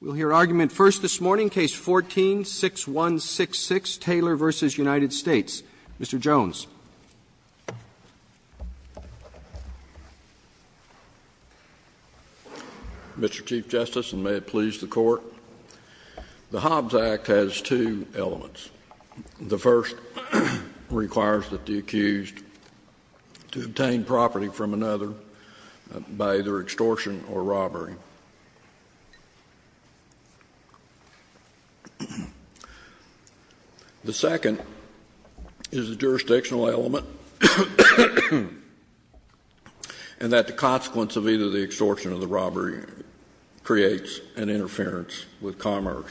We'll hear argument first this morning, Case 14-6166, Taylor v. United States. Mr. Jones. Mr. Chief Justice, and may it please the Court, the Hobbs Act has two elements. The first requires that the accused obtain property from another by either extortion or robbery. The second is a jurisdictional element, and that the consequence of either the extortion or the robbery creates an interference with commerce.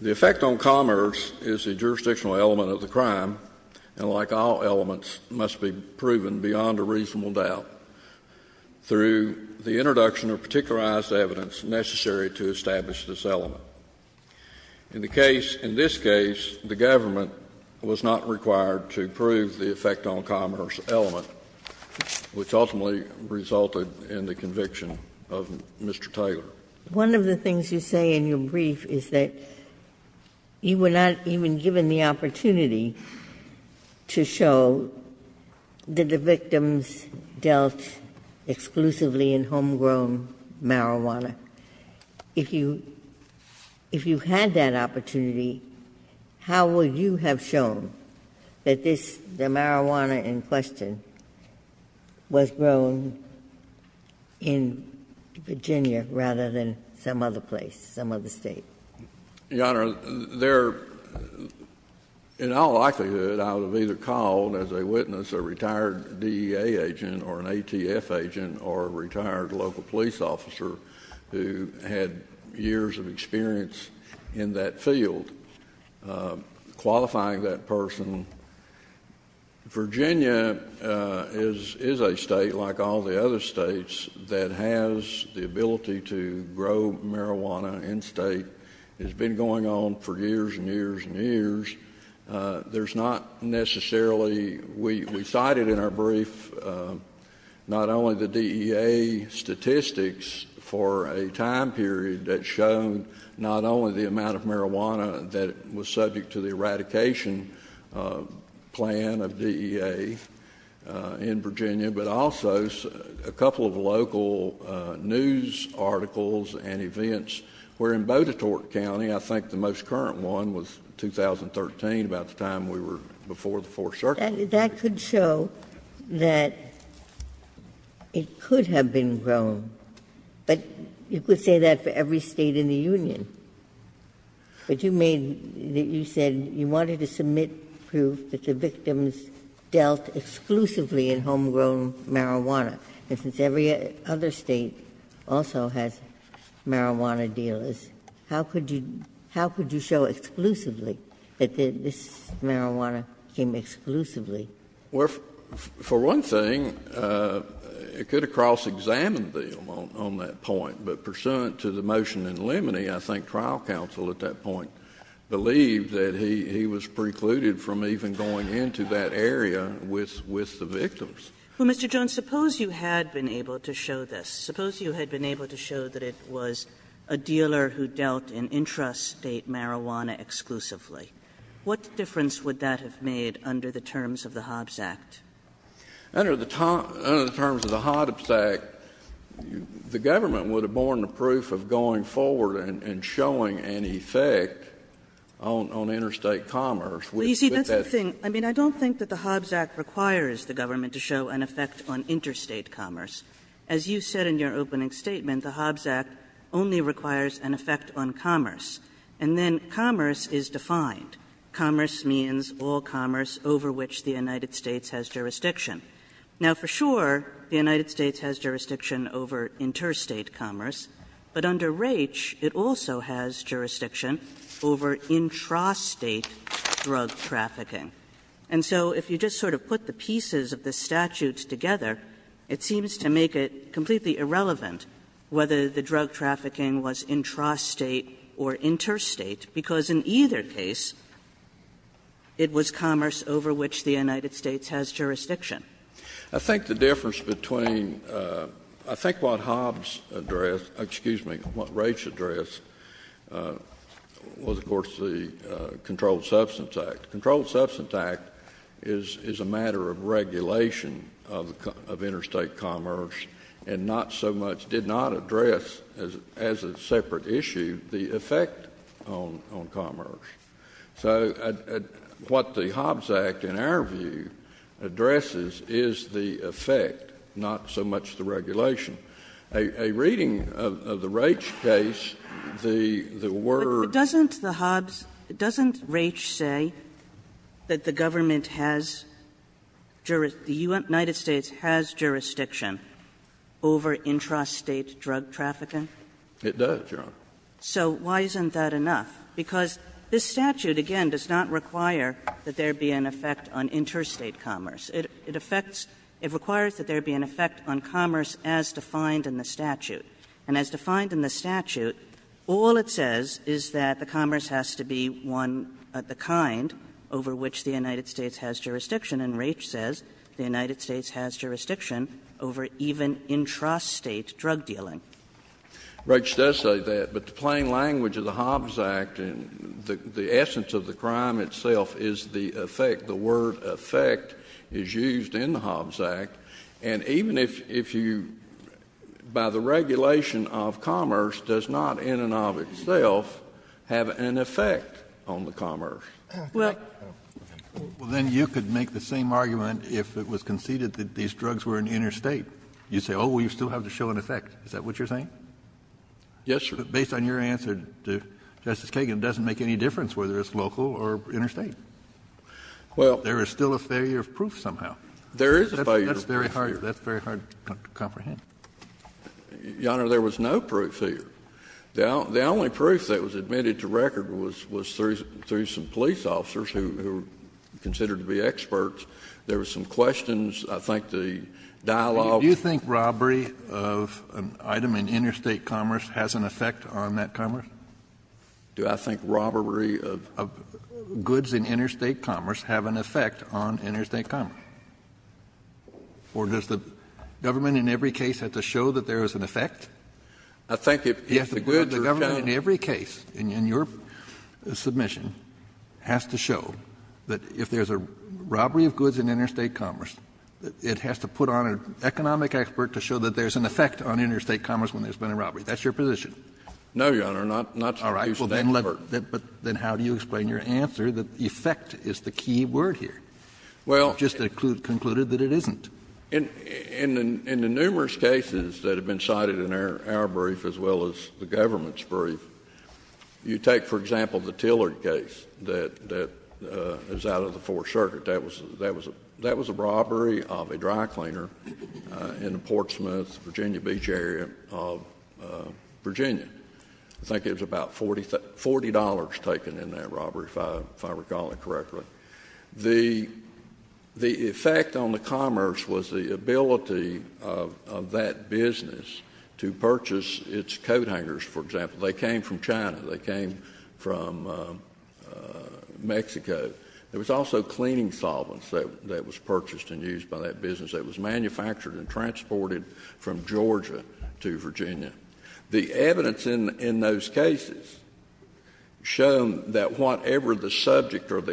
The effect on commerce is a jurisdictional element of the crime, and like all elements, must be proven beyond a reasonable doubt. Through the introduction of particularized evidence necessary to establish this element. In the case of this case, the government was not required to prove the effect on commerce element, which ultimately resulted in the conviction of Mr. Taylor. One of the things you say in your brief is that you were not even given the opportunity to show that the victims dealt exclusively in homegrown marijuana. If you had that opportunity, how would you have shown that this, the marijuana in question, was grown in Virginia rather than some other place, some other State? Your Honor, in all likelihood, I would have either called as a witness a retired DEA agent or an ATF agent or a retired local police officer who had years of experience in that field, qualifying that person. Virginia is a State, like all the other States, that has the ability to grow marijuana in State. It's been going on for years and years and years. There's not necessarily, we cited in our brief, not only the DEA statistics for a time period that show not only the amount of marijuana that was subject to the eradication plan of DEA in Virginia, but also a couple of local news articles and events where in Botetourt County, I think the most current one was 2013, about the time we were before the Fourth Circuit. That could show that it could have been grown, but you could say that for every State in the Union. Ginsburg. But you made, you said you wanted to submit proof that the victims dealt exclusively in homegrown marijuana. And since every other State also has marijuana dealers, how could you show exclusively that this marijuana came exclusively? Well, for one thing, it could have cross-examined them on that point. But pursuant to the motion in Limonee, I think trial counsel at that point believed that he was precluded from even going into that area with the victims. Well, Mr. Jones, suppose you had been able to show this. Suppose you had been able to show that it was a dealer who dealt in intrastate marijuana exclusively. What difference would that have made under the terms of the Hobbs Act? Under the terms of the Hobbs Act, the government would have borne the proof of going forward and showing an effect on interstate commerce. But that's the thing. I mean, I don't think that the Hobbs Act requires the government to show an effect on interstate commerce. As you said in your opening statement, the Hobbs Act only requires an effect on commerce. And then commerce is defined. Commerce means all commerce over which the United States has jurisdiction. Now, for sure, the United States has jurisdiction over interstate commerce, but under Raich, it also has jurisdiction over intrastate drug trafficking. And so if you just sort of put the pieces of the statute together, it seems to make it completely irrelevant whether the drug trafficking was intrastate or interstate, because in either case, it was commerce over which the United States has jurisdiction. I think the difference between the Hobbs address, excuse me, Raich address, was of course the Controlled Substance Act. The Controlled Substance Act is a matter of regulation of interstate commerce and not so much did not address as a separate issue the effect on interstate commerce, on commerce. So what the Hobbs Act, in our view, addresses is the effect, not so much the regulation. A reading of the Raich case, the word of the Hobbs, doesn't Raich say that the government has jurisdiction, the United States has jurisdiction over intrastate drug trafficking? It does, Your Honor. So why isn't that enough? Because this statute, again, does not require that there be an effect on interstate commerce. It affects — it requires that there be an effect on commerce as defined in the statute. And as defined in the statute, all it says is that the commerce has to be one of the kind over which the United States has jurisdiction, and Raich says the United States has jurisdiction over even intrastate drug dealing. Raich does say that, but the plain language of the Hobbs Act, the essence of the crime itself is the effect, the word effect is used in the Hobbs Act. And even if you — by the regulation of commerce does not in and of itself have an effect on the commerce. Well, then you could make the same argument if it was conceded that these drugs were in interstate. You'd say, oh, well, you still have to show an effect. Is that what you're saying? Yes, sir. But based on your answer, Justice Kagan, it doesn't make any difference whether it's local or interstate. Well — There is still a failure of proof somehow. There is a failure of proof. That's very hard — that's very hard to comprehend. Your Honor, there was no proof here. The only proof that was admitted to record was through some police officers who were considered to be experts. There were some questions. I think the dialogue — Do you think robbery of an item in interstate commerce has an effect on that commerce? Do I think robbery of goods in interstate commerce have an effect on interstate commerce? Or does the government in every case have to show that there is an effect? I think if the goods are found — Yes, the government in every case in your submission has to show that if there's an effect on interstate commerce when there's been a robbery. That's your position. No, Your Honor, not to use that word. All right. But then how do you explain your answer that effect is the key word here? Well — You just concluded that it isn't. In the numerous cases that have been cited in our brief as well as the government's brief, you take, for example, the Tillard case that is out of the Fourth Circuit. That was a robbery of a dry cleaner in the Portsmouth, Virginia Beach area of Virginia. I think it was about $40 taken in that robbery, if I recall it correctly. The effect on the commerce was the ability of that business to purchase its coat hangers, for example. They came from China. They came from Mexico. There was also cleaning solvents that was purchased and used by that business that was manufactured and transported from Georgia to Virginia. The evidence in those cases show that whatever the subject of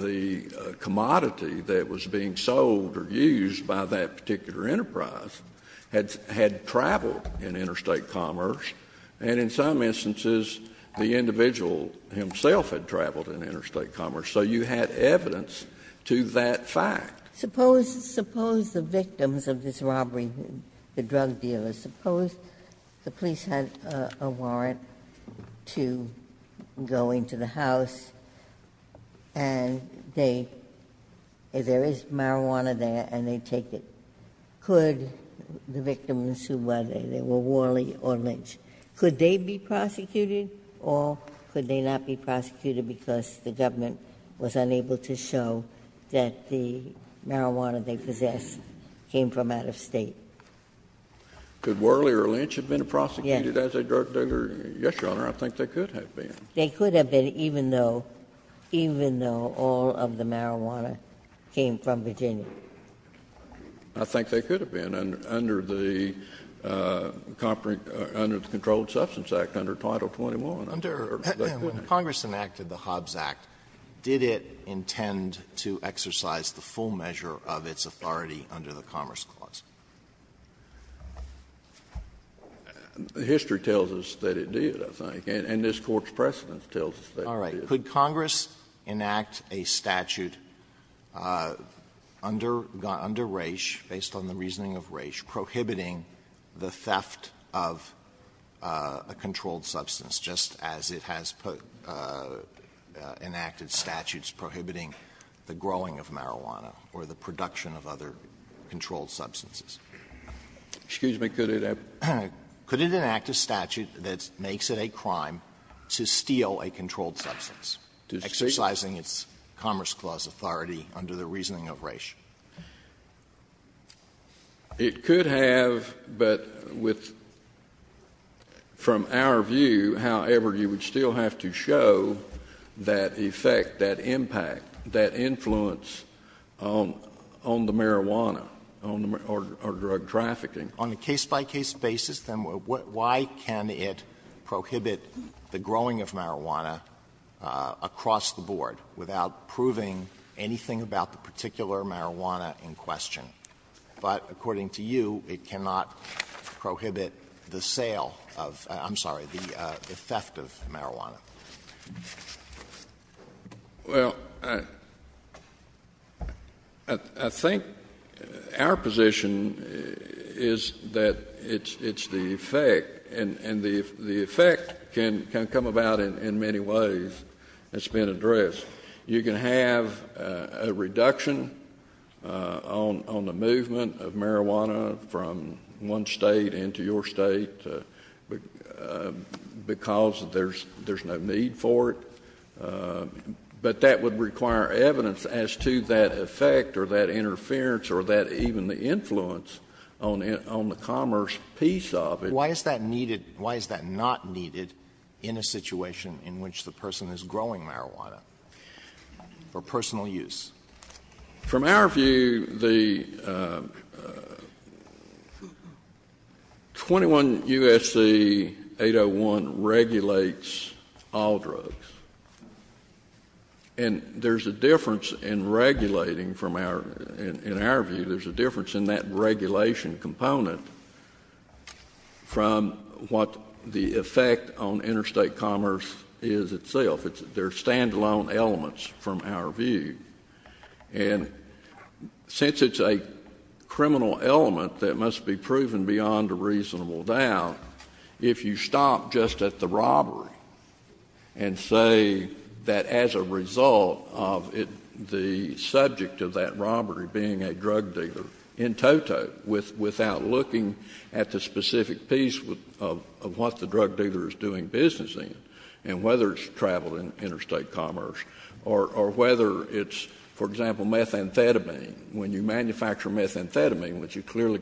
the commodity that was being sold or used by that particular enterprise had traveled in interstate commerce, and in some instances, the individual himself had traveled in interstate commerce. So you had evidence to that fact. Suppose — suppose the victims of this robbery, the drug dealers, suppose the police had a warrant to go into the house and they — if there is marijuana there and they take it, could the victims who were there, they were Worley or Lynch, could they be charged Could they be prosecuted or could they not be prosecuted because the government was unable to show that the marijuana they possessed came from out of State? Could Worley or Lynch have been prosecuted as a drug dealer? Yes, Your Honor. I think they could have been. They could have been, even though — even though all of the marijuana came from Virginia. I think they could have been. Under the — under the Controlled Substance Act, under Title XXI, I'm not sure. Alito, when Congress enacted the Hobbs Act, did it intend to exercise the full measure of its authority under the Commerce Clause? History tells us that it did, I think, and this Court's precedence tells us that it did. All right. Could Congress enact a statute under — under Raich, based on the reasoning of Raich, prohibiting the theft of a controlled substance, just as it has put — enacted statutes prohibiting the growing of marijuana or the production of other controlled substances? Excuse me. Could it have — Could it enact a statute that makes it a crime to steal a controlled substance, exercising its Commerce Clause authority under the reasoning of Raich? It could have, but with — from our view, however, you would still have to show that effect, that impact, that influence on the marijuana or drug trafficking. On a case-by-case basis, then, why can it prohibit the growing of marijuana across the board, without proving anything about the particular marijuana in question? But according to you, it cannot prohibit the sale of — I'm sorry, the theft of marijuana. Well, I think our position is that it's the effect, and the effect can come about in many ways. It's been addressed. You can have a reduction on the movement of marijuana from one state into your other state because there's no need for it. But that would require evidence as to that effect or that interference or that even the influence on the commerce piece of it. Why is that needed? Why is that not needed in a situation in which the person is growing marijuana for personal use? From our view, the 21 U.S.C. 801 regulates all drugs. And there's a difference in regulating from our — in our view, there's a difference in that regulation component from what the effect on interstate commerce is itself. They're standalone elements from our view. And since it's a criminal element that must be proven beyond a reasonable doubt, if you stop just at the robbery and say that as a result of the subject of that robbery being a drug dealer in toto, without looking at the specific piece of what the drug dealer is doing business in and whether it's traveling interstate commerce or whether it's, for example, methamphetamine. When you manufacture methamphetamine, which is clearly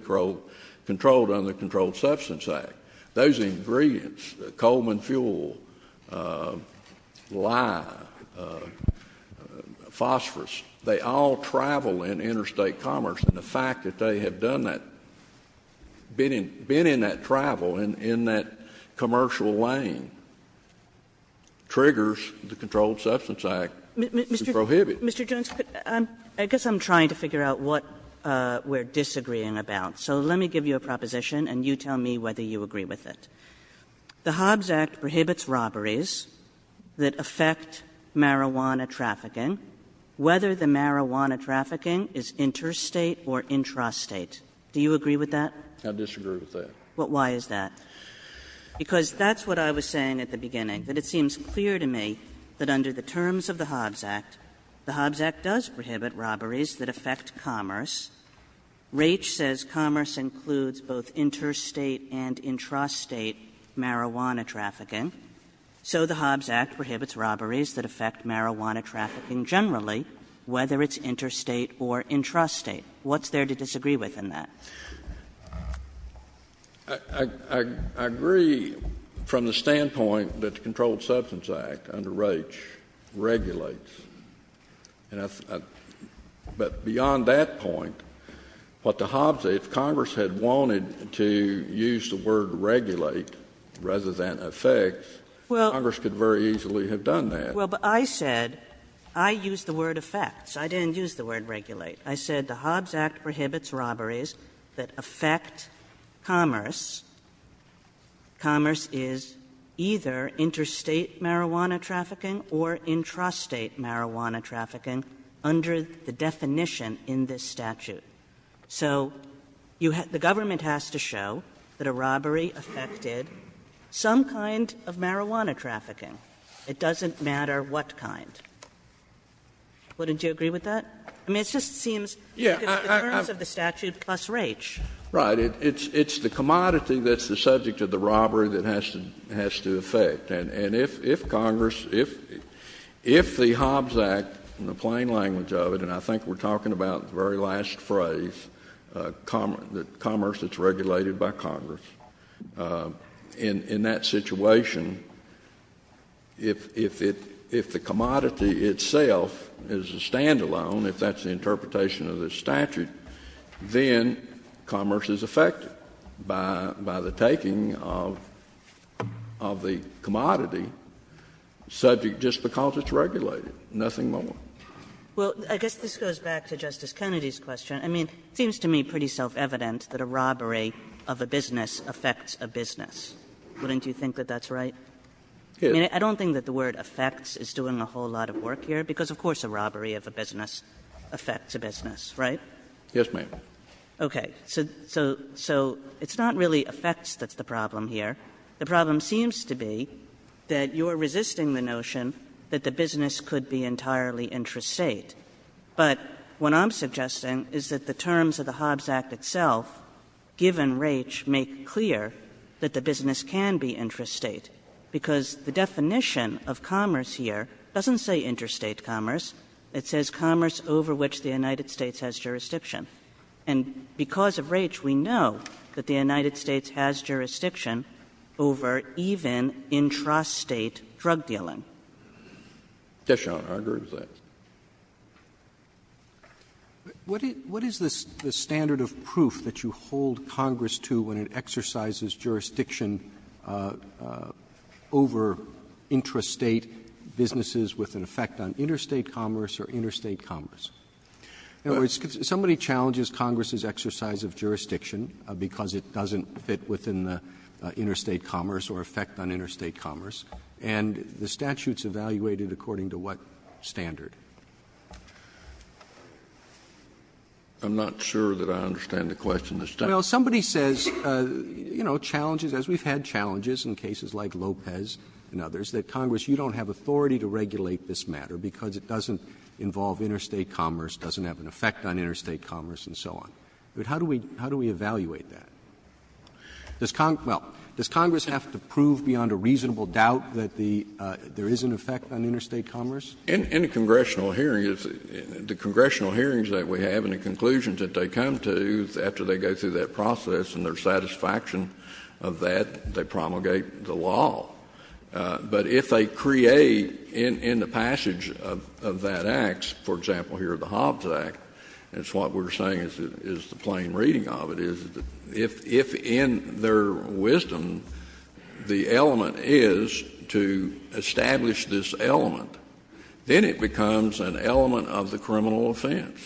controlled under the Controlled Substance Act, those ingredients — Coleman fuel, lye, phosphorus — they all travel in interstate commerce. And the fact that they have done that, been in that travel, in that commercial lane, triggers the Controlled Substance Act to prohibit. Mr. Jones, I guess I'm trying to figure out what we're disagreeing about. So let me give you a proposition, and you tell me whether you agree with it. The Hobbs Act prohibits robberies that affect marijuana trafficking. Whether the marijuana trafficking is interstate or intrastate. Do you agree with that? I disagree with that. Well, why is that? Because that's what I was saying at the beginning, that it seems clear to me that under the terms of the Hobbs Act, the Hobbs Act does prohibit robberies that affect commerce. Raich says commerce includes both interstate and intrastate marijuana trafficking, so the Hobbs Act prohibits robberies that affect marijuana trafficking generally, whether it's interstate or intrastate. What's there to disagree with in that? I agree from the standpoint that the Controlled Substance Act under Raich regulates. But beyond that point, what the Hobbs Act, if Congress had wanted to use the word regulate rather than affect, Congress could very easily have done that. Well, but I said, I used the word affects. I didn't use the word regulate. I said the Hobbs Act prohibits robberies that affect commerce. Commerce is either interstate marijuana trafficking or intrastate marijuana trafficking under the definition in this statute. So the government has to show that a robbery affected some kind of marijuana trafficking. It doesn't matter what kind. Wouldn't you agree with that? I mean, it just seems because the terms of the statute plus Raich. Right. It's the commodity that's the subject of the robbery that has to affect. And if Congress, if the Hobbs Act, in the plain language of it, and I think we're all familiar with the phrase, commerce that's regulated by Congress, in that situation, if the commodity itself is a standalone, if that's the interpretation of the statute, then commerce is affected by the taking of the commodity, subject just because it's regulated, nothing more. Well, I guess this goes back to Justice Kennedy's question. I mean, it seems to me pretty self-evident that a robbery of a business affects a business. Wouldn't you think that that's right? Yes. I mean, I don't think that the word affects is doing a whole lot of work here, because of course a robbery of a business affects a business, right? Yes, ma'am. Okay. So it's not really affects that's the problem here. The problem seems to be that you're resisting the notion that the business could be entirely intrastate. But what I'm suggesting is that the terms of the Hobbs Act itself, given Raich, make clear that the business can be intrastate, because the definition of commerce here doesn't say intrastate commerce. It says commerce over which the United States has jurisdiction. And because of Raich, we know that the United States has jurisdiction over even intrastate drug dealing. Yes, Your Honor. I agree with that. Roberts. What is the standard of proof that you hold Congress to when it exercises jurisdiction over intrastate businesses with an effect on interstate commerce or interstate commerce? Somebody challenges Congress's exercise of jurisdiction because it doesn't fit within the interstate commerce or effect on interstate commerce. And the statute's evaluated according to what standard? I'm not sure that I understand the question. Well, somebody says, you know, challenges, as we've had challenges in cases like Lopez and others, that Congress, you don't have authority to regulate this matter because it doesn't involve interstate commerce, doesn't have an effect on interstate commerce and so on. But how do we evaluate that? Does Congress have to prove beyond a reasonable doubt that there is an effect on interstate commerce? In a congressional hearing, the congressional hearings that we have and the conclusions that they come to after they go through that process and their satisfaction of that, they promulgate the law. But if they create, in the passage of that act, for example, here the Hobbs Act, it's what we're saying is the plain reading of it, is that if in their wisdom the element is to establish this element, then it becomes an element of the criminal offense.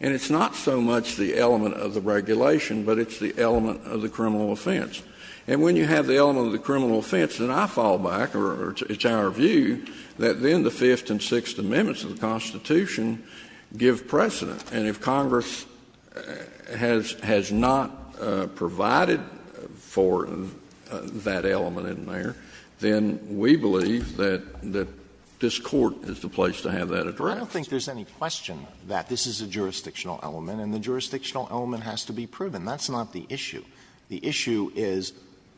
And it's not so much the element of the regulation, but it's the element of the criminal offense. And when you have the element of the criminal offense, then I fall back, or it's our view, that then the Fifth and Sixth Amendments of the Constitution give precedent. And if Congress has not provided for that element in there, then we believe that this Court is the place to have that addressed. I don't think there's any question that this is a jurisdictional element and the jurisdictional element has to be proven. That's not the issue. The issue is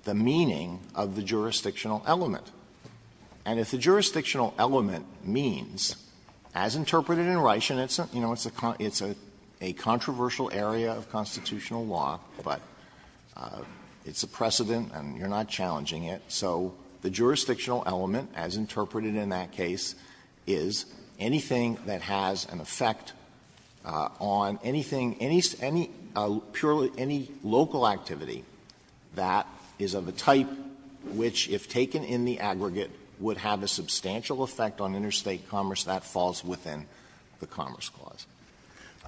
the meaning of the jurisdictional element. And if the jurisdictional element means, as interpreted in Reishen, it's a controversial area of constitutional law, but it's a precedent and you're not challenging it, so the jurisdictional element, as interpreted in that case, is anything that has an effect on anything, any purely, any local activity that is of a type which, if taken in the aggregate, would have a substantial effect on interstate commerce, that falls within the Commerce Clause.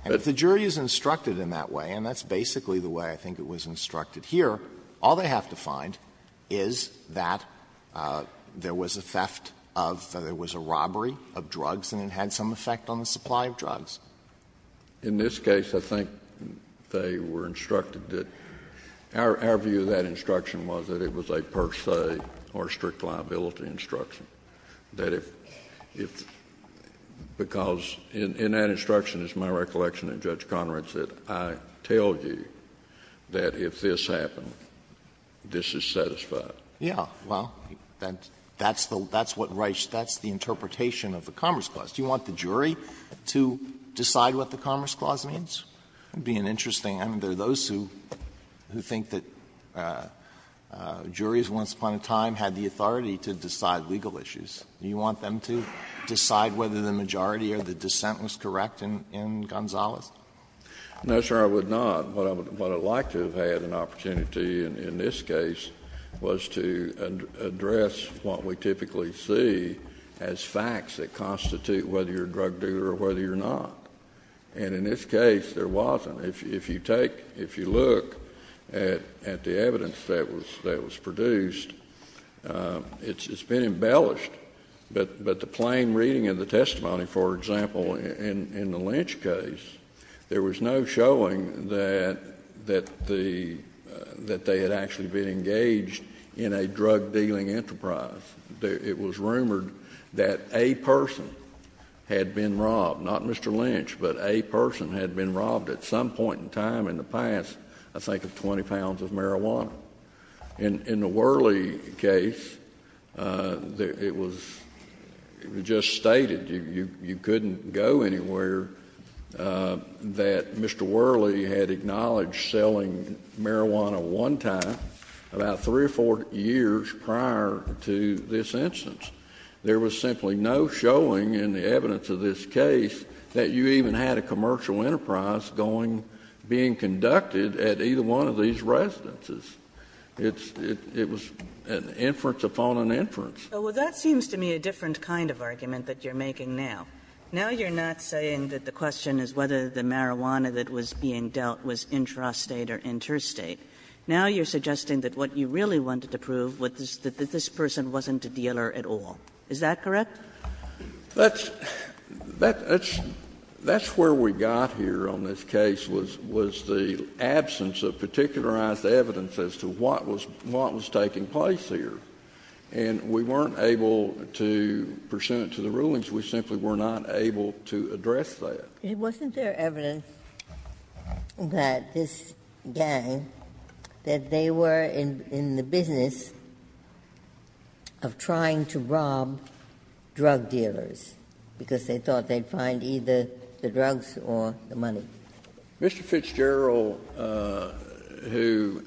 And if the jury is instructed in that way, and that's basically the way I think it was instructed here, all they have to find is that there was a theft of, there was a robbery of drugs and it had some effect on the supply of drugs. In this case, I think they were instructed that our view of that instruction was that it was a per se or strict liability instruction, that if, because in that instruction, it's my recollection that Judge Conrad said, I tell you that if this happened, this is satisfied. Alito, that's what Reishen, that's the interpretation of the Commerce Clause. Do you want the jury to decide what the Commerce Clause means? It would be an interesting end. There are those who think that juries, once upon a time, had the authority to decide legal issues. Do you want them to decide whether the majority or the dissent was correct in Gonzales? Kennedy, No, sir, I would not. What I would like to have had an opportunity in this case was to address what we typically see as facts that constitute whether you're a drug dealer or whether you're not. And in this case, there wasn't. If you take, if you look at the evidence that was produced, it's been embellished, but the plain reading of the testimony, for example, in the Lynch case, there was no showing that the, that they had actually been engaged in a drug dealing enterprise. It was rumored that a person had been robbed, not Mr. Lynch, but a person had been robbed at some point in time in the past, I think of 20 pounds of marijuana. In the Worley case, it was, it was just stated, you couldn't go anywhere, that Mr. Worley had acknowledged selling marijuana one time about 3 or 4 years prior to this instance. There was simply no showing in the evidence of this case that you even had a commercial enterprise going, being conducted at either one of these residences. It's, it, it was an inference upon an inference. Well, that seems to me a different kind of argument that you're making now. Now you're not saying that the question is whether the marijuana that was being dealt was intrastate or interstate. Now you're suggesting that what you really wanted to prove was that this person wasn't a dealer at all. Is that correct? That's, that's, that's where we got here on this case was, was the absence of particularized evidence as to what was, what was taking place here. And we weren't able to pursue it to the rulings. We simply were not able to address that. Wasn't there evidence that this gang, that they were in, in the business of trying to rob drug dealers because they thought they'd find either the drugs or the money? Mr. Fitzgerald, who,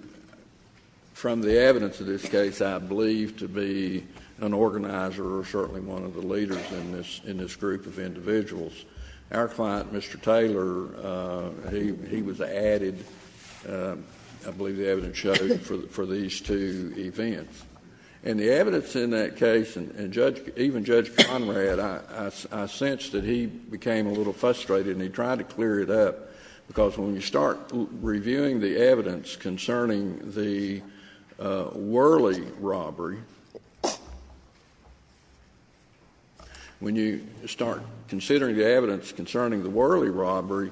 from the evidence of this case, I believe to be an organizer or certainly one of the leaders in this, in this group of individuals. Our client, Mr. Taylor, he, he was added, I believe the evidence shows, for, for these two events. And the evidence in that case, and Judge, even Judge Conrad, I, I sensed that he became a little frustrated and he tried to clear it up, because when you start reviewing the evidence concerning the Worley robbery, when you start considering the evidence concerning the Worley robbery,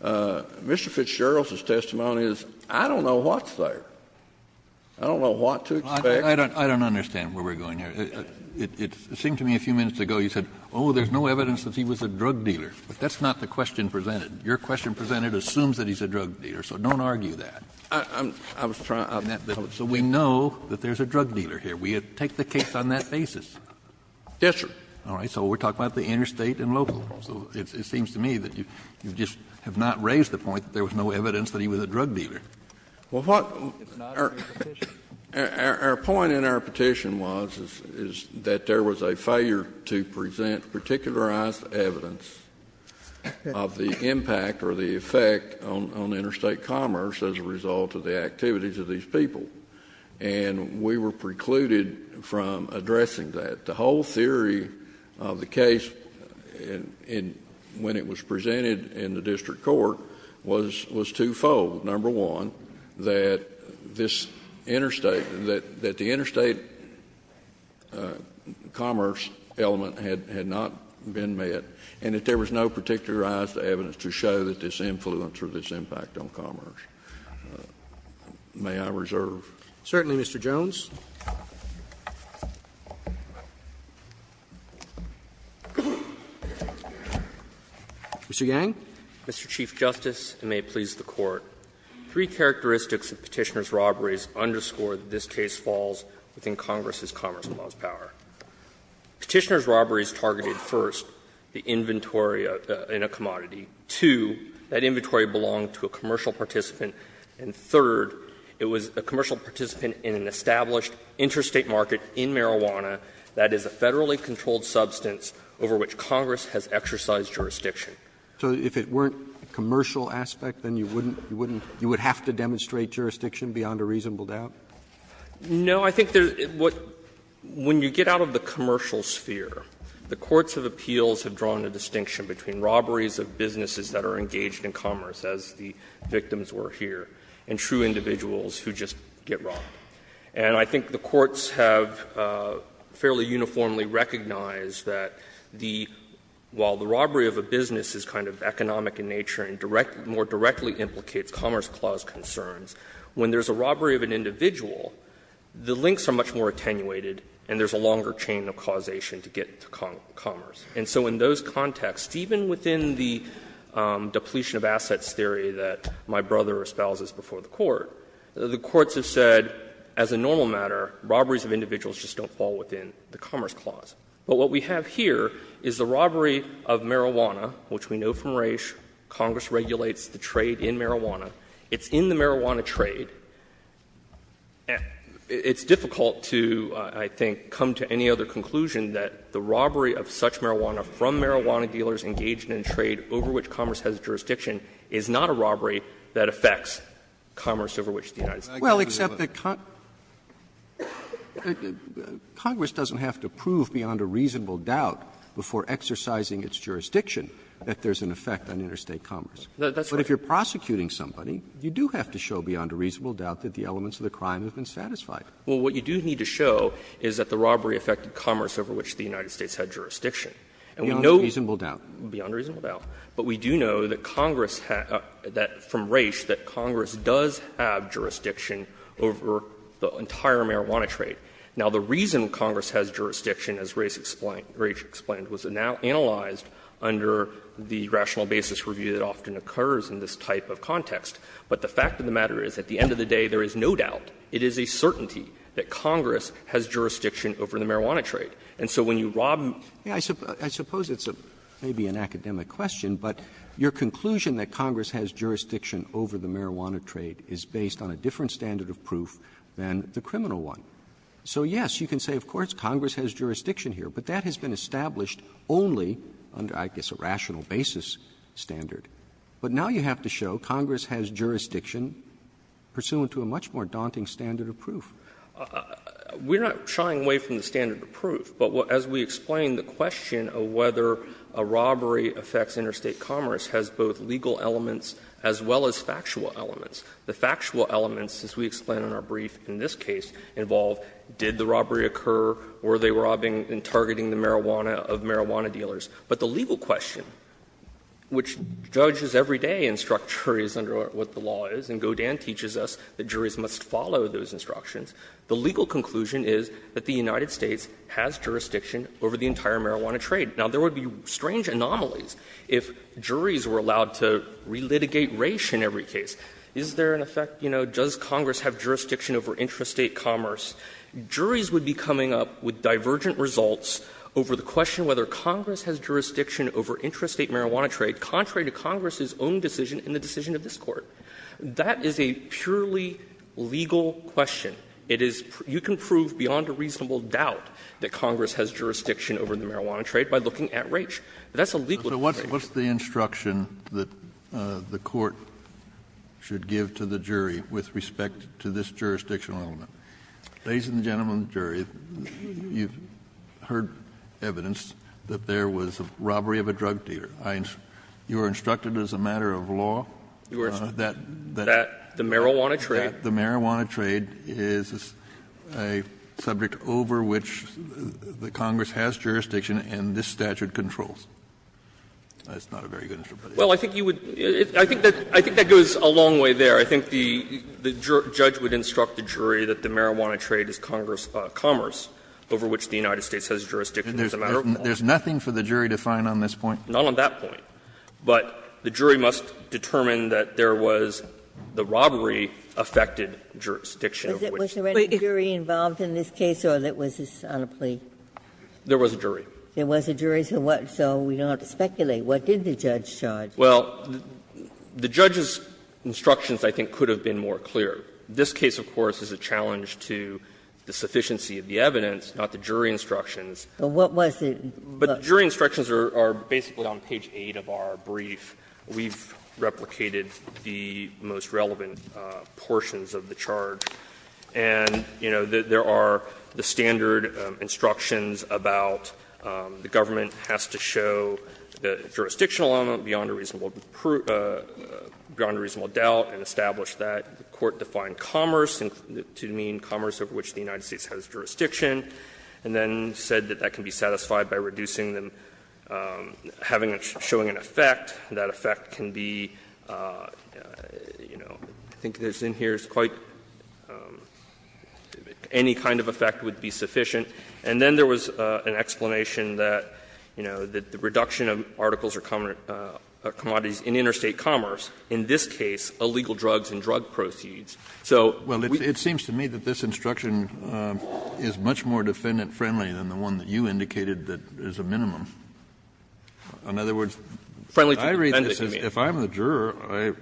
Mr. Fitzgerald's testimony is, I don't know what's there. I don't know what to expect. I don't, I don't understand where we're going here. It, it, it seemed to me a few minutes ago you said, oh, there's no evidence that he was a drug dealer. But that's not the question presented. Your question presented assumes that he's a drug dealer, so don't argue that. I'm, I was trying to. So we know that there's a drug dealer here. We take the case on that basis. Yes, sir. All right. So we're talking about the interstate and local. So it, it seems to me that you, you just have not raised the point that there was no evidence that he was a drug dealer. Well, what. It's not in your petition. Our, our, our point in our petition was, is, is that there was a failure to present particularized evidence of the impact or the effect on, on interstate commerce as a result of the activities of these people. And we were precluded from addressing that. The whole theory of the case in, in, when it was presented in the district court was, was twofold. Number one, that this interstate, that, that the interstate commerce element had, had not been met, and that there was no particularized evidence to show that this influence or this impact on commerce. May I reserve? Certainly, Mr. Jones. Mr. Yang. Mr. Chief Justice, and may it please the Court, three characteristics of Petitioner's robberies underscore that this case falls within Congress's Commerce and Laws power. Petitioner's robberies targeted, first, the inventory in a commodity. Two, that inventory belonged to a commercial participant. And third, it was a commercial participant in an established interstate market in marijuana that is a Federally controlled substance over which Congress has exercised jurisdiction. So if it weren't a commercial aspect, then you wouldn't, you wouldn't, you would have to demonstrate jurisdiction beyond a reasonable doubt? No, I think there's, what, when you get out of the commercial sphere, the courts of appeals have drawn a distinction between robberies of businesses that are engaged in commerce, as the victims were here, and true individuals who just get robbed. And I think the courts have fairly uniformly recognized that the, while the robbery of a business is kind of economic in nature and direct, more directly implicates Commerce Clause concerns, when there's a robbery of an individual, the links are much more attenuated and there's a longer chain of causation to get to commerce. And so in those contexts, even within the depletion of assets theory that my brother espouses before the Court, the courts have said, as a normal matter, robberies of individuals just don't fall within the Commerce Clause. But what we have here is the robbery of marijuana, which we know from Raich, Congress regulates the trade in marijuana. It's in the marijuana trade. It's difficult to, I think, come to any other conclusion that the robbery of such marijuana from marijuana dealers engaged in a trade over which Commerce has jurisdiction is not a robbery that affects commerce over which the United States has jurisdiction. Roberts, Congress doesn't have to prove beyond a reasonable doubt before exercising its jurisdiction that there's an effect on interstate commerce. But if you're prosecuting somebody, you do have to show beyond a reasonable doubt that the elements of the crime have been satisfied. Well, what you do need to show is that the robbery affected commerce over which the United States had jurisdiction. And we know that Congress has jurisdiction over the entire marijuana trade. Now, the reason Congress has jurisdiction, as Raich explained, was analyzed under the rational basis review that often occurs in this type of context. But the fact of the matter is, at the end of the day, there is no doubt, it is a certainty, that Congress has jurisdiction over the marijuana trade. And so when you rob them, I suppose it's maybe an academic question, but your conclusion that Congress has jurisdiction over the marijuana trade is based on a different standard of proof than the criminal one. So, yes, you can say, of course, Congress has jurisdiction here, but that has been established only under, I guess, a rational basis standard. But now you have to show Congress has jurisdiction pursuant to a much more daunting standard of proof. We're not shying away from the standard of proof, but as we explained, the question of whether a robbery affects interstate commerce has both legal elements as well as factual elements. The factual elements, as we explain in our brief in this case, involve did the robbery occur, were they robbing and targeting the marijuana of marijuana dealers. But the legal question, which judges every day instruct juries under what the law is, and Godin teaches us that juries must follow those instructions, the legal conclusion is that the United States has jurisdiction over the entire marijuana trade. Now, there would be strange anomalies if juries were allowed to relitigate race in every case. Is there an effect, you know, does Congress have jurisdiction over interstate commerce? Juries would be coming up with divergent results over the question whether Congress has jurisdiction over interstate marijuana trade contrary to Congress's own decision in the decision of this Court. That is a purely legal question. It is you can prove beyond a reasonable doubt that Congress has jurisdiction over the marijuana trade by looking at Raich. That's a legal question. Kennedy, so what's the instruction that the Court should give to the jury with respect to this jurisdictional element? Kennedy, ladies and gentlemen of the jury, you've heard evidence that there was a robbery of a drug dealer. You are instructed as a matter of law that that the marijuana trade is a subject over which the Congress has jurisdiction and this statute controls. That's not a very good instruction. Well, I think you would – I think that goes a long way there. I think the judge would instruct the jury that the marijuana trade is commerce over which the United States has jurisdiction as a matter of law. There's nothing for the jury to find on this point? Not on that point. But the jury must determine that there was the robbery affected jurisdiction over which. Was there any jury involved in this case or was this on a plea? There was a jury. There was a jury, so what – so we don't have to speculate. What did the judge charge? Well, the judge's instructions, I think, could have been more clear. This case, of course, is a challenge to the sufficiency of the evidence, not the jury instructions. But what was the – But the jury instructions are basically on page 8 of our brief. We've replicated the most relevant portions of the charge. And, you know, there are the standard instructions about the government has to show a jurisdictional element beyond a reasonable doubt and establish that the court defined commerce to mean commerce over which the United States has jurisdiction, and then said that that can be satisfied by reducing the – having a – showing an effect, and that effect can be, you know, I think that's in here, it's quite – any kind of effect would be sufficient. And then there was an explanation that, you know, that the reduction of articles or commodities in interstate commerce, in this case, illegal drugs and drug proceeds. So we – Well, it seems to me that this instruction is much more defendant-friendly than the one that you indicated that is a minimum. In other words, I read this as – if I'm the juror, I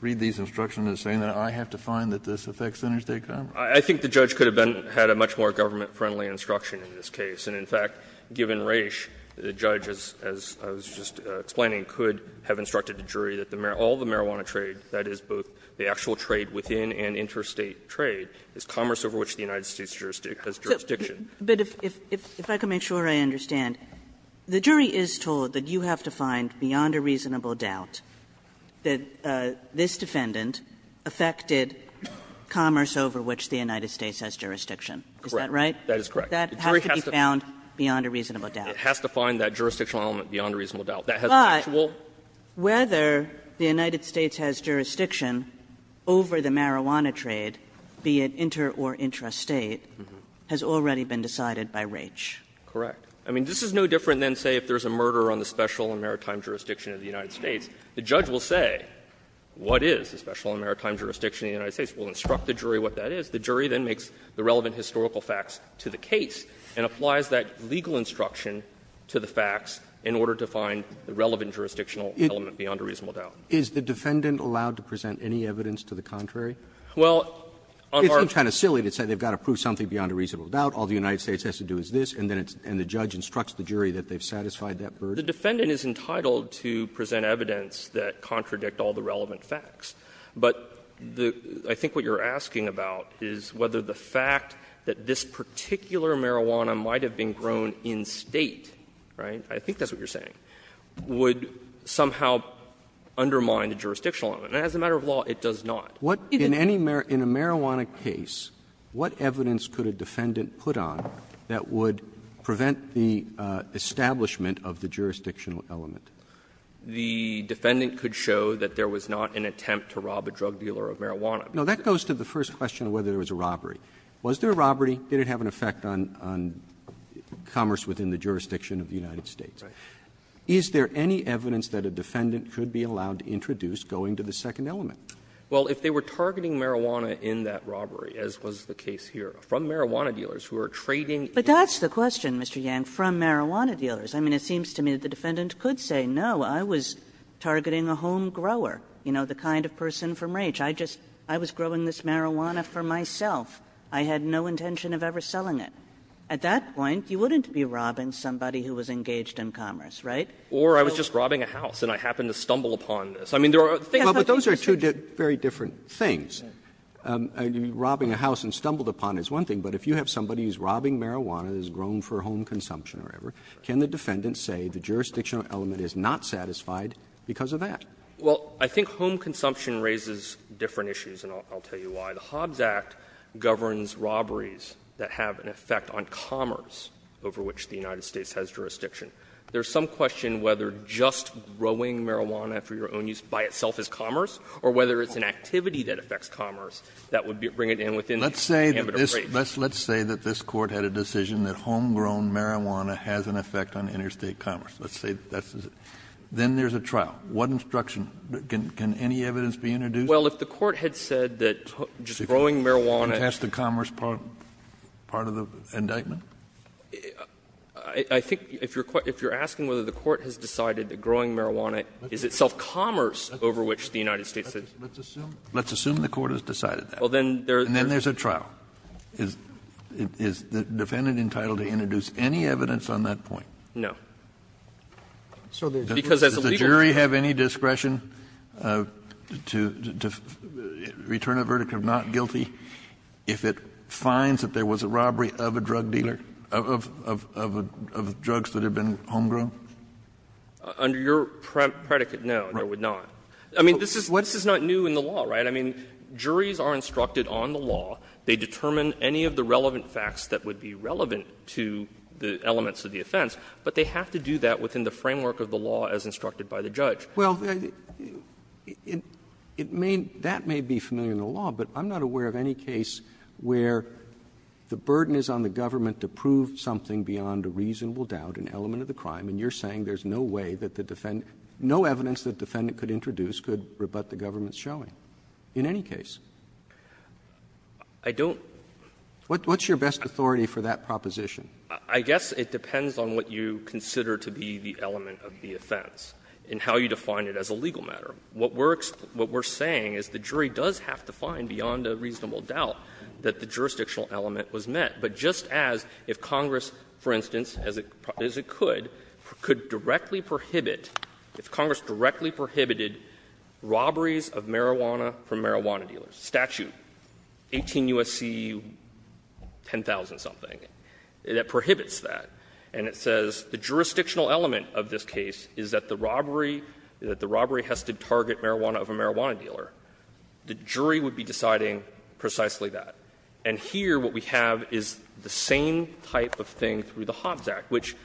read these instructions as saying that I have to find that this affects interstate commerce. I think the judge could have been – had a much more government-friendly instruction in this case. And, in fact, given Raich, the judge, as I was just explaining, could have instructed the jury that all the marijuana trade, that is, both the actual trade within and interstate trade, is commerce over which the United States has jurisdiction. Kagan. Kagan. Kagan. Kagan. Kagan. Kagan. Kagan. Kagan. Kagan. Kagan. Kagan. Kagan. Kagan. Kagan. However, the fact that the jury is saying this is commerce over which the United States has jurisdiction, is that right? Waxman. That is correct. That has to be bound beyond a reasonable doubt. Waxman. It has to find that jurisdictional element beyond a reasonable doubt. That has an actual… But whether the United States has jurisdiction over the marijuana trade, be it inter or intrastate, has already been decided by Raich. Correct. I mean, this is no different than, say, if there's a murder on the special and maritime jurisdiction, the United States will instruct the jury what that is. The jury then makes the relevant historical facts to the case and applies that legal instruction to the facts in order to find the relevant jurisdictional element beyond a reasonable doubt. Is the defendant allowed to present any evidence to the contrary? Well, on our… Isn't it kind of silly to say they've got to prove something beyond a reasonable doubt, all the United States has to do is this, and then it's the judge instructs the jury that they've satisfied that burden? The defendant is entitled to present evidence that contradict all the relevant facts. But the — I think what you're asking about is whether the fact that this particular marijuana might have been grown in-State, right, I think that's what you're saying, would somehow undermine the jurisdictional element. And as a matter of law, it does not. What — in any — in a marijuana case, what evidence could a defendant put on that would prevent the establishment of the jurisdictional element? The defendant could show that there was not an attempt to rob a drug dealer of marijuana. Roberts. No, that goes to the first question of whether there was a robbery. Was there a robbery? Did it have an effect on — on commerce within the jurisdiction of the United States? Right. Is there any evidence that a defendant could be allowed to introduce going to the second element? Well, if they were targeting marijuana in that robbery, as was the case here, from marijuana dealers who are trading in— But that's the question, Mr. Yang, from marijuana dealers. I mean, it seems to me that the defendant could say, no, I was targeting a homegrower, you know, the kind of person from which I just — I was growing this marijuana for myself. I had no intention of ever selling it. At that point, you wouldn't be robbing somebody who was engaged in commerce, right? Or I was just robbing a house and I happened to stumble upon this. I mean, there are things that— But those are two very different things. I mean, robbing a house and stumbled upon it is one thing, but if you have somebody who's robbing marijuana that's grown for home consumption or whatever, can the defendant say the jurisdictional element is not satisfied because of that? Well, I think home consumption raises different issues, and I'll tell you why. The Hobbs Act governs robberies that have an effect on commerce over which the United States has jurisdiction. There's some question whether just growing marijuana for your own use by itself is commerce or whether it's an activity that affects commerce that would bring it in within the ambit of breach. Let's say that this Court had a decision that homegrown marijuana has an effect on interstate commerce. Let's say that's the case. Then there's a trial. What instruction? Can any evidence be introduced? Well, if the Court had said that just growing marijuana— Contested commerce part of the indictment? I think if you're asking whether the Court has decided that growing marijuana is itself commerce over which the United States has jurisdiction. Let's assume the Court has decided that. Well, then there's a trial. Is the defendant entitled to introduce any evidence on that point? No. Because as a legal— Does the jury have any discretion to return a verdict of not guilty if it finds that there was a robbery of a drug dealer, of drugs that had been homegrown? Under your predicate, no. No, it would not. I mean, this is not new in the law, right? I mean, juries are instructed on the law. They determine any of the relevant facts that would be relevant to the elements of the offense, but they have to do that within the framework of the law as instructed by the judge. Well, it may — that may be familiar in the law, but I'm not aware of any case where the burden is on the government to prove something beyond a reasonable doubt, an element of the crime, and you're saying there's no way that the defendant — no evidence the defendant could introduce could rebut the government's showing in any case. I don't— What's your best authority for that proposition? I guess it depends on what you consider to be the element of the offense and how you define it as a legal matter. What we're saying is the jury does have to find beyond a reasonable doubt that the jurisdictional element was met. But just as if Congress, for instance, as it could, could directly prohibit If Congress directly prohibited robberies of marijuana from marijuana dealers. Statute 18 U.S.C. 10,000-something, that prohibits that. And it says the jurisdictional element of this case is that the robbery — that the robbery has to target marijuana of a marijuana dealer. The jury would be deciding precisely that. And here what we have is the same type of thing through the Hobbs Act, which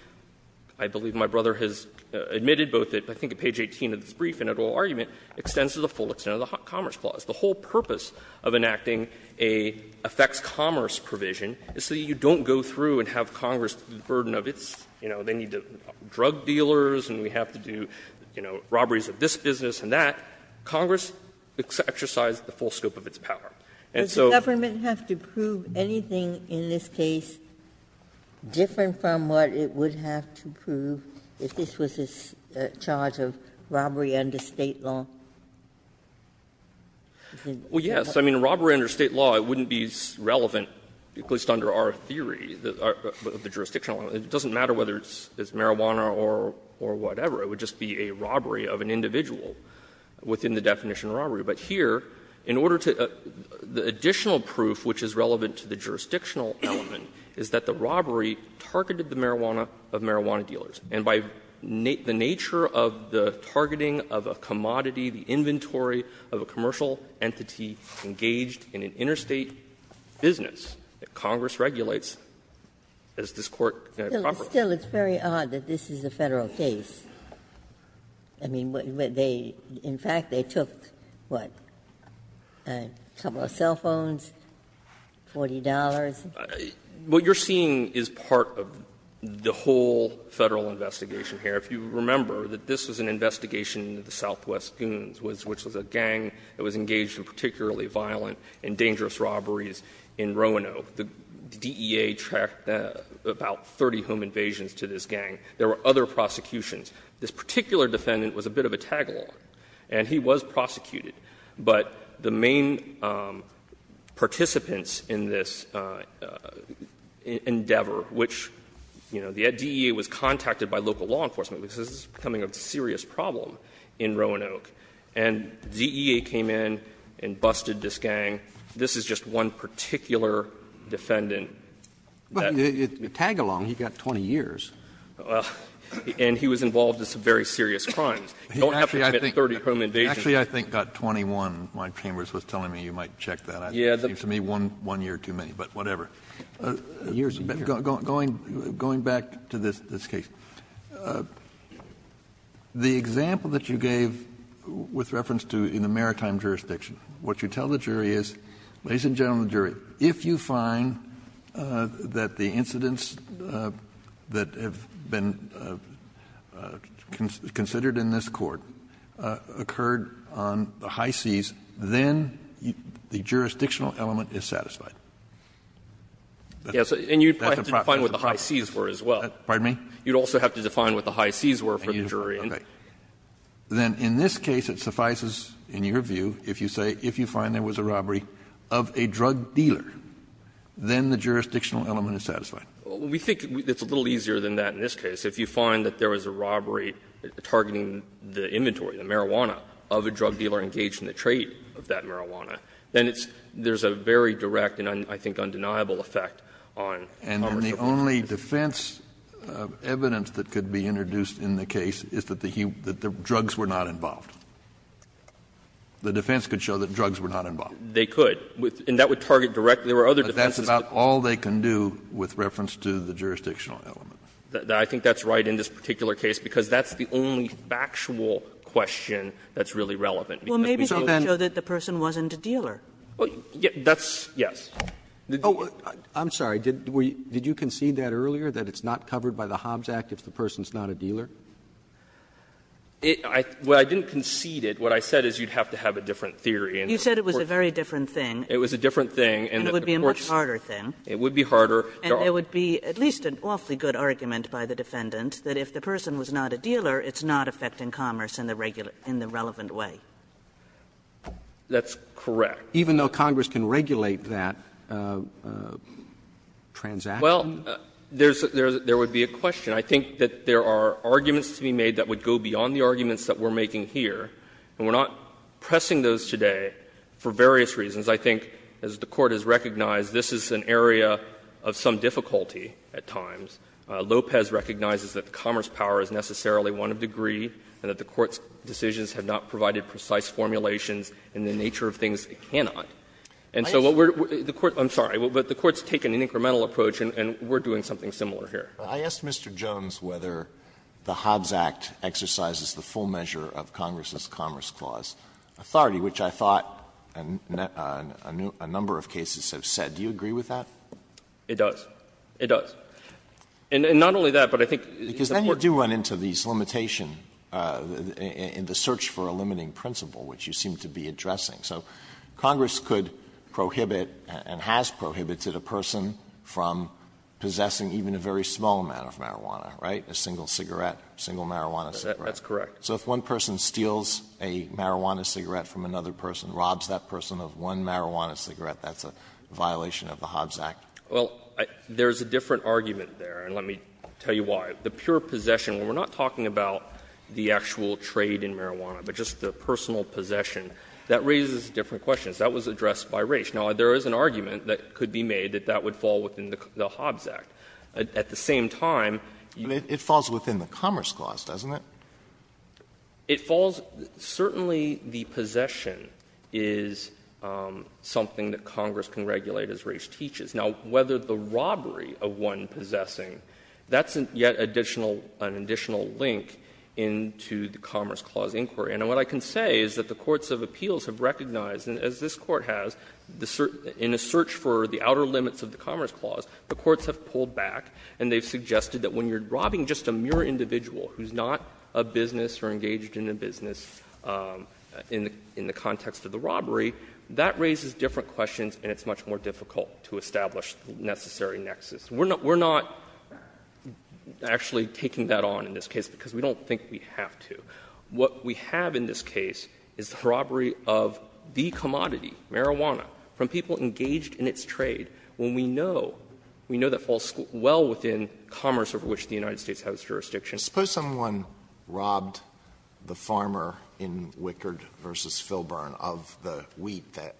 I believe my brother has admitted, both at, I think, page 18 of this brief and at oral argument, extends to the full extent of the Commerce Clause. The whole purpose of enacting a effects commerce provision is so you don't go through and have Congress do the burden of its — you know, they need drug dealers and we have to do, you know, robberies of this business and that. Congress exercises the full scope of its power. And so— Does the government have to prove anything in this case different from what it would have to prove if this was a charge of robbery under State law? Well, yes. I mean, robbery under State law, it wouldn't be relevant, at least under our theory of the jurisdictional element. It doesn't matter whether it's marijuana or whatever. It would just be a robbery of an individual within the definition of robbery. But here, in order to — the additional proof which is relevant to the jurisdictional element is that the robbery targeted the marijuana of marijuana dealers. And by the nature of the targeting of a commodity, the inventory of a commercial entity engaged in an interstate business that Congress regulates, does this Court have a proper— Ginsburg. Still, it's very odd that this is a Federal case. I mean, they — in fact, they took, what, a couple of cell phones, $40? What you're seeing is part of the whole Federal investigation here. If you remember, this was an investigation into the Southwest Goons, which was a gang that was engaged in particularly violent and dangerous robberies in Roanoke. The DEA tracked about 30 home invasions to this gang. There were other prosecutions. This particular defendant was a bit of a tagalong, and he was prosecuted. But the main participants in this endeavor, which, you know, the DEA was contacted by local law enforcement, because this is becoming a serious problem in Roanoke, and DEA came in and busted this gang. This is just one particular defendant that— Roberts Well, tagalong, he got 20 years. And he was involved in some very serious crimes. You don't have to admit 30 home invasions. Kennedy Actually, I think got 21. My chambers was telling me you might check that. It seems to me one year too many, but whatever. Kennedy Going back to this case, the example that you gave with reference to in the maritime jurisdiction, what you tell the jury is, ladies and gentlemen of the jury, if you find that the incidents that have been considered in this Court occurred on the high seas, then the jurisdictional element is satisfied. That's a property of the problem. Roberts Yes, and you'd have to define what the high seas were as well. Kennedy Pardon me? Roberts You'd also have to define what the high seas were for the jury. Kennedy Okay. Then in this case, it suffices, in your view, if you say, if you find there was a robbery of a drug dealer, then the jurisdictional element is satisfied. Roberts We think it's a little easier than that in this case. If you find that there was a robbery targeting the inventory, the marijuana, of a drug dealer engaged in the trade of that marijuana, then it's — there's a very direct and I think undeniable effect on commerce of information. Kennedy And the only defense evidence that could be introduced in the case is that the drugs were not involved. The defense could show that drugs were not involved. Roberts They could. And that would target directly or other defenses. Kennedy But that's about all they can do with reference to the jurisdictional element. Roberts I think that's right in this particular case, because that's the only factual question that's really relevant. Kagan Well, maybe they would show that the person wasn't a dealer. Roberts Well, that's — yes. Roberts Oh, I'm sorry. Did you concede that earlier, that it's not covered by the Hobbs Act if the person is not a dealer? Roberts I didn't concede it. What I said is you'd have to have a different theory. Kagan You said it was a very different thing. Roberts It was a different thing. And of course — Kagan And it would be a much harder thing. Roberts It would be harder. Kagan And there would be at least an awfully good argument by the defendant that if the person was not a dealer, it's not affecting commerce in the relevant way. Roberts That's correct. Roberts Even though Congress can regulate that transaction? Roberts Well, there would be a question. I think that there are arguments to be made that would go beyond the arguments that we're making here. And we're not pressing those today for various reasons. I think, as the Court has recognized, this is an area of some difficulty at times. Lopez recognizes that commerce power is necessarily one of degree and that the Court's decisions have not provided precise formulations in the nature of things it cannot. And so what we're — the Court — I'm sorry. But the Court's taken an incremental approach, and we're doing something similar here. Alito Mr. Jones, whether the Hobbs Act exercises the full measure of Congress's Commerce Clause authority, which I thought a number of cases have said, do you agree with that? Jones It does. It does. And not only that, but I think the Court doesn't think that's the case. Alito Because then you do run into these limitations in the search for a limiting principle, which you seem to be addressing. So Congress could prohibit and has prohibited a person from possessing even a very small amount of marijuana, right, a single cigarette, a single marijuana cigarette. Jones That's correct. Alito So if one person steals a marijuana cigarette from another person, robs that person of one marijuana cigarette, that's a violation of the Hobbs Act? Jones Well, there's a different argument there, and let me tell you why. The pure possession, when we're not talking about the actual trade in marijuana, but just the personal possession, that raises different questions. That was addressed by Raich. Now, there is an argument that could be made that that would fall within the Hobbs Act. At the same time, you Alito But it falls within the Commerce Clause, doesn't it? Jones It falls — certainly the possession is something that Congress can regulate as Raich teaches. Now, whether the robbery of one possessing, that's yet additional — an additional link into the Commerce Clause inquiry. And what I can say is that the courts of appeals have recognized, and as this Court has, in a search for the outer limits of the Commerce Clause, the courts have pulled back, and they've suggested that when you're robbing just a mere individual who's not a business or engaged in a business in the context of the robbery, that raises different questions, and it's much more difficult to establish the necessary nexus. We're not — we're not actually taking that on in this case, because we don't think we have to. What we have in this case is the robbery of the commodity, marijuana, from people engaged in its trade, when we know — we know that falls well within commerce over which the United States has jurisdiction. Alito Suppose someone robbed the farmer in Wickard v. Filburn of the wheat that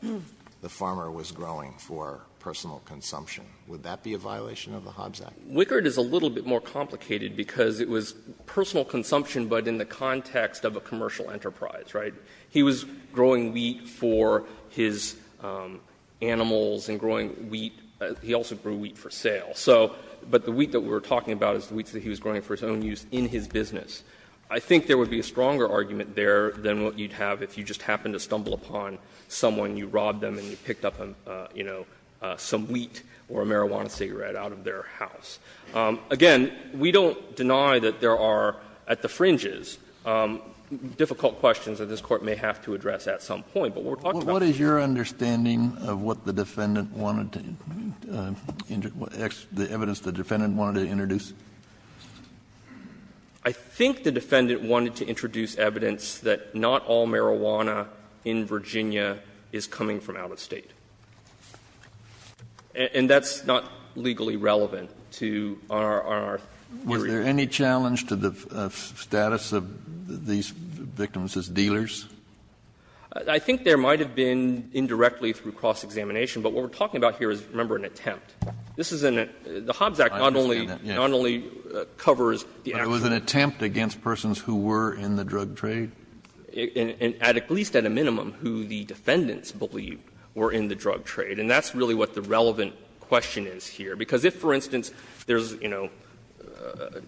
the farmer was growing for personal consumption. Would that be a violation of the Hobbs Act? Jones Wickard is a little bit more complicated, because it was personal consumption, but in the context of a commercial enterprise, right? He was growing wheat for his animals and growing wheat. He also grew wheat for sale. So — but the wheat that we're talking about is the wheat that he was growing for his own use in his business. I think there would be a stronger argument there than what you'd have if you just happened to stumble upon someone, you robbed them, and you picked up, you know, some wheat or a marijuana cigarette out of their house. Again, we don't deny that there are, at the fringes, difficult questions that this Court may have to address at some point, but what we're talking about is the— Kennedy What is your understanding of what the defendant wanted to — the evidence the defendant wanted to introduce? Jones I think the defendant wanted to introduce evidence that not all marijuana in Virginia is coming from out of State. And that's not legally relevant to our theory. Kennedy Is there any challenge to the status of these victims as dealers? Jones I think there might have been indirectly through cross-examination. But what we're talking about here is, remember, an attempt. This is an — the Hobbs Act not only covers the actual— Kennedy But it was an attempt against persons who were in the drug trade? Jones At least at a minimum, who the defendants believed were in the drug trade. And that's really what the relevant question is here. Because if, for instance, there's, you know,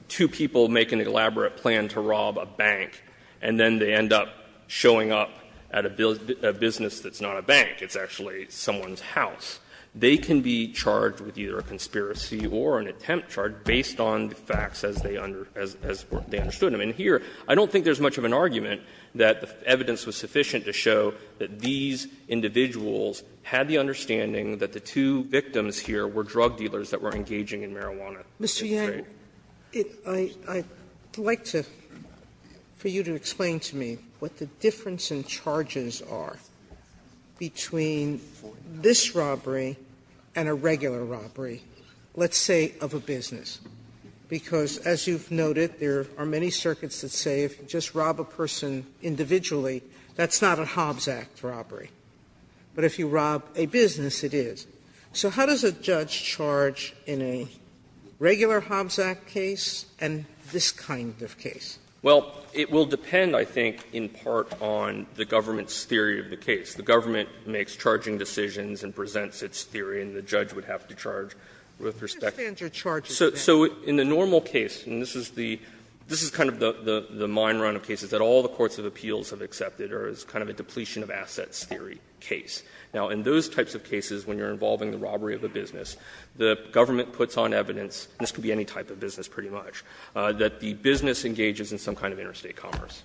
two people making an elaborate plan to rob a bank, and then they end up showing up at a business that's not a bank, it's actually someone's house, they can be charged with either a conspiracy or an attempt charge based on the facts as they understood them. And here, I don't think there's much of an argument that the evidence was sufficient to show that these individuals had the understanding that the two victims here were drug dealers that were engaging in marijuana in the drug trade. Mr. Yang, I'd like to — for you to explain to me what the difference in charges are between this robbery and a regular robbery, let's say, of a business. Because, as you've noted, there are many circuits that say if you just rob a person individually, that's not a Hobbs Act robbery. But if you rob a business, it is. So how does a judge charge in a regular Hobbs Act case and this kind of case? Well, it will depend, I think, in part on the government's theory of the case. The government makes charging decisions and presents its theory, and the judge would have to charge with respect to that. So in the normal case, and this is the — this is kind of the mine run of cases that all the courts of appeals have accepted, or it's kind of a depletion-of-assets theory case. Now, in those types of cases, when you're involving the robbery of a business, the government puts on evidence, and this could be any type of business pretty much, that the business engages in some kind of interstate commerce.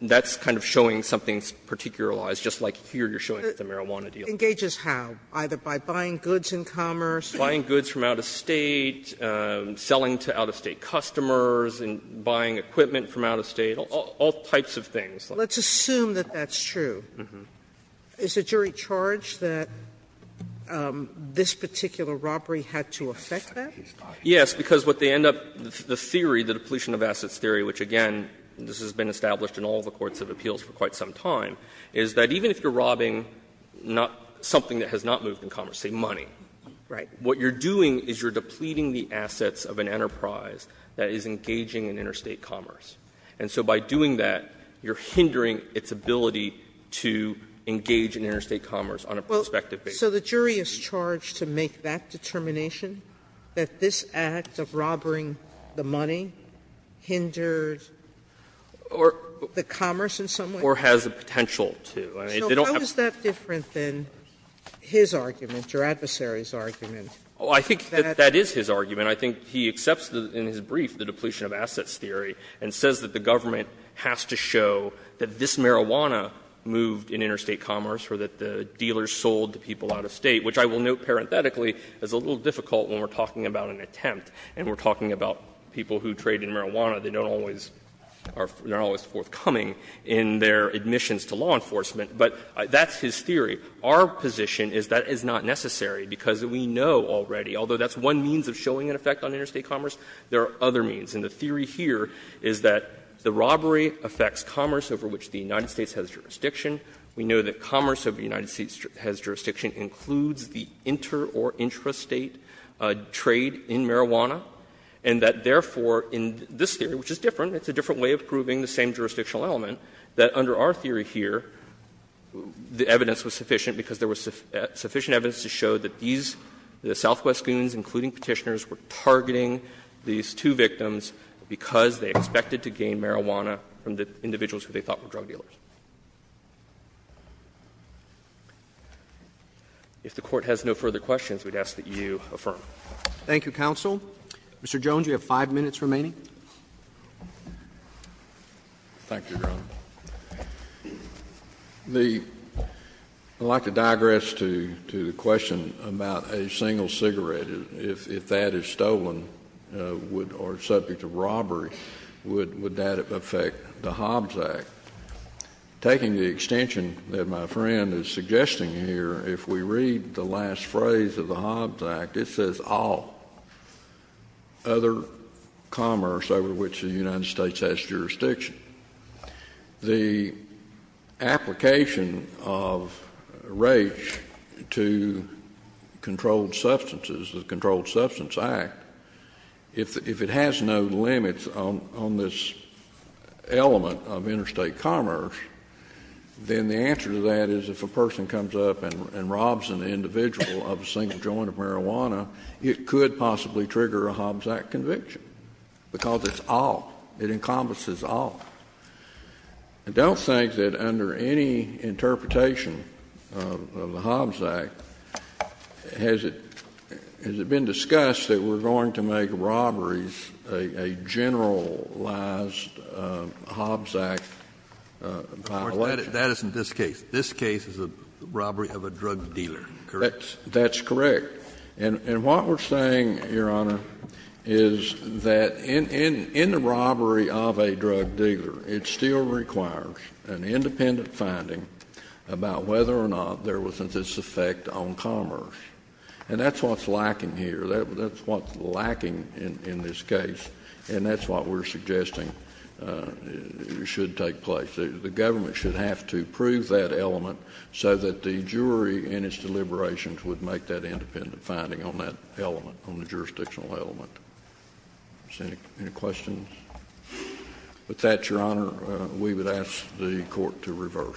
That's kind of showing something's particularized, just like here you're showing with the marijuana deal. Sotomayor, engages how? Either by buying goods in commerce? Buying goods from out-of-state, selling to out-of-state customers, and buying equipment from out-of-state, all types of things. Sotomayor, let's assume that that's true. Is the jury charged that this particular robbery had to affect that? Yes, because what they end up — the theory, the depletion-of-assets theory, which, again, this has been established in all the courts of appeals for quite some time, is that even if you're robbing not — something that has not moved in commerce, say, money, what you're doing is you're depleting the assets of an enterprise that is engaging in interstate commerce. And so by doing that, you're hindering its ability to engage in interstate commerce on a prospective basis. Sotomayor, so the jury is charged to make that determination, that this act of robbering the money hindered the commerce in some way? Or has the potential to. I mean, they don't have to. So how is that different than his argument, your adversary's argument? Oh, I think that that is his argument. I mean, I think he accepts in his brief the depletion-of-assets theory and says that the government has to show that this marijuana moved in interstate commerce or that the dealers sold to people out of State, which I will note parenthetically is a little difficult when we're talking about an attempt and we're talking about people who trade in marijuana that don't always — are not always forthcoming in their admissions to law enforcement. But that's his theory. Our position is that is not necessary, because we know already, although that's one means of showing an effect on interstate commerce, there are other means. And the theory here is that the robbery affects commerce over which the United States has jurisdiction. We know that commerce over the United States has jurisdiction includes the inter- or intrastate trade in marijuana, and that, therefore, in this theory, which is different, it's a different way of proving the same jurisdictional element, that under our theory here, the evidence was sufficient because there was sufficient evidence to show that these — the Southwest goons, including Petitioners, were targeting these two victims because they expected to gain marijuana from the individuals who they thought were drug dealers. If the Court has no further questions, we'd ask that you affirm. Roberts. Thank you, counsel. Thank you, Your Honor. The — I'd like to digress to the question about a single cigarette. If that is stolen or subject to robbery, would that affect the Hobbs Act? Taking the extension that my friend is suggesting here, if we read the last phrase of the Hobbs Act, it says, all other commerce over which the United States has jurisdiction. The application of rage to controlled substances, the Controlled Substance Act, if it has no limits on this element of interstate commerce, then the answer to that is if a person comes up and robs an individual of a single joint of marijuana, it could possibly trigger a Hobbs Act conviction, because it's all — it encompasses all. I don't think that under any interpretation of the Hobbs Act has it been discussed that we're going to make robberies a generalized Hobbs Act violation. That isn't this case. This case is a robbery of a drug dealer, correct? That's correct. And what we're saying, Your Honor, is that in the robbery of a drug dealer, it still requires an independent finding about whether or not there was a disaffect on commerce. And that's what's lacking here. That's what's lacking in this case. And that's what we're suggesting should take place. The government should have to prove that element so that the jury in its independent finding on that element, on the jurisdictional element. Any questions? With that, Your Honor, we would ask the Court to reverse.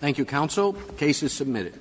Thank you, Counsel. Case is submitted.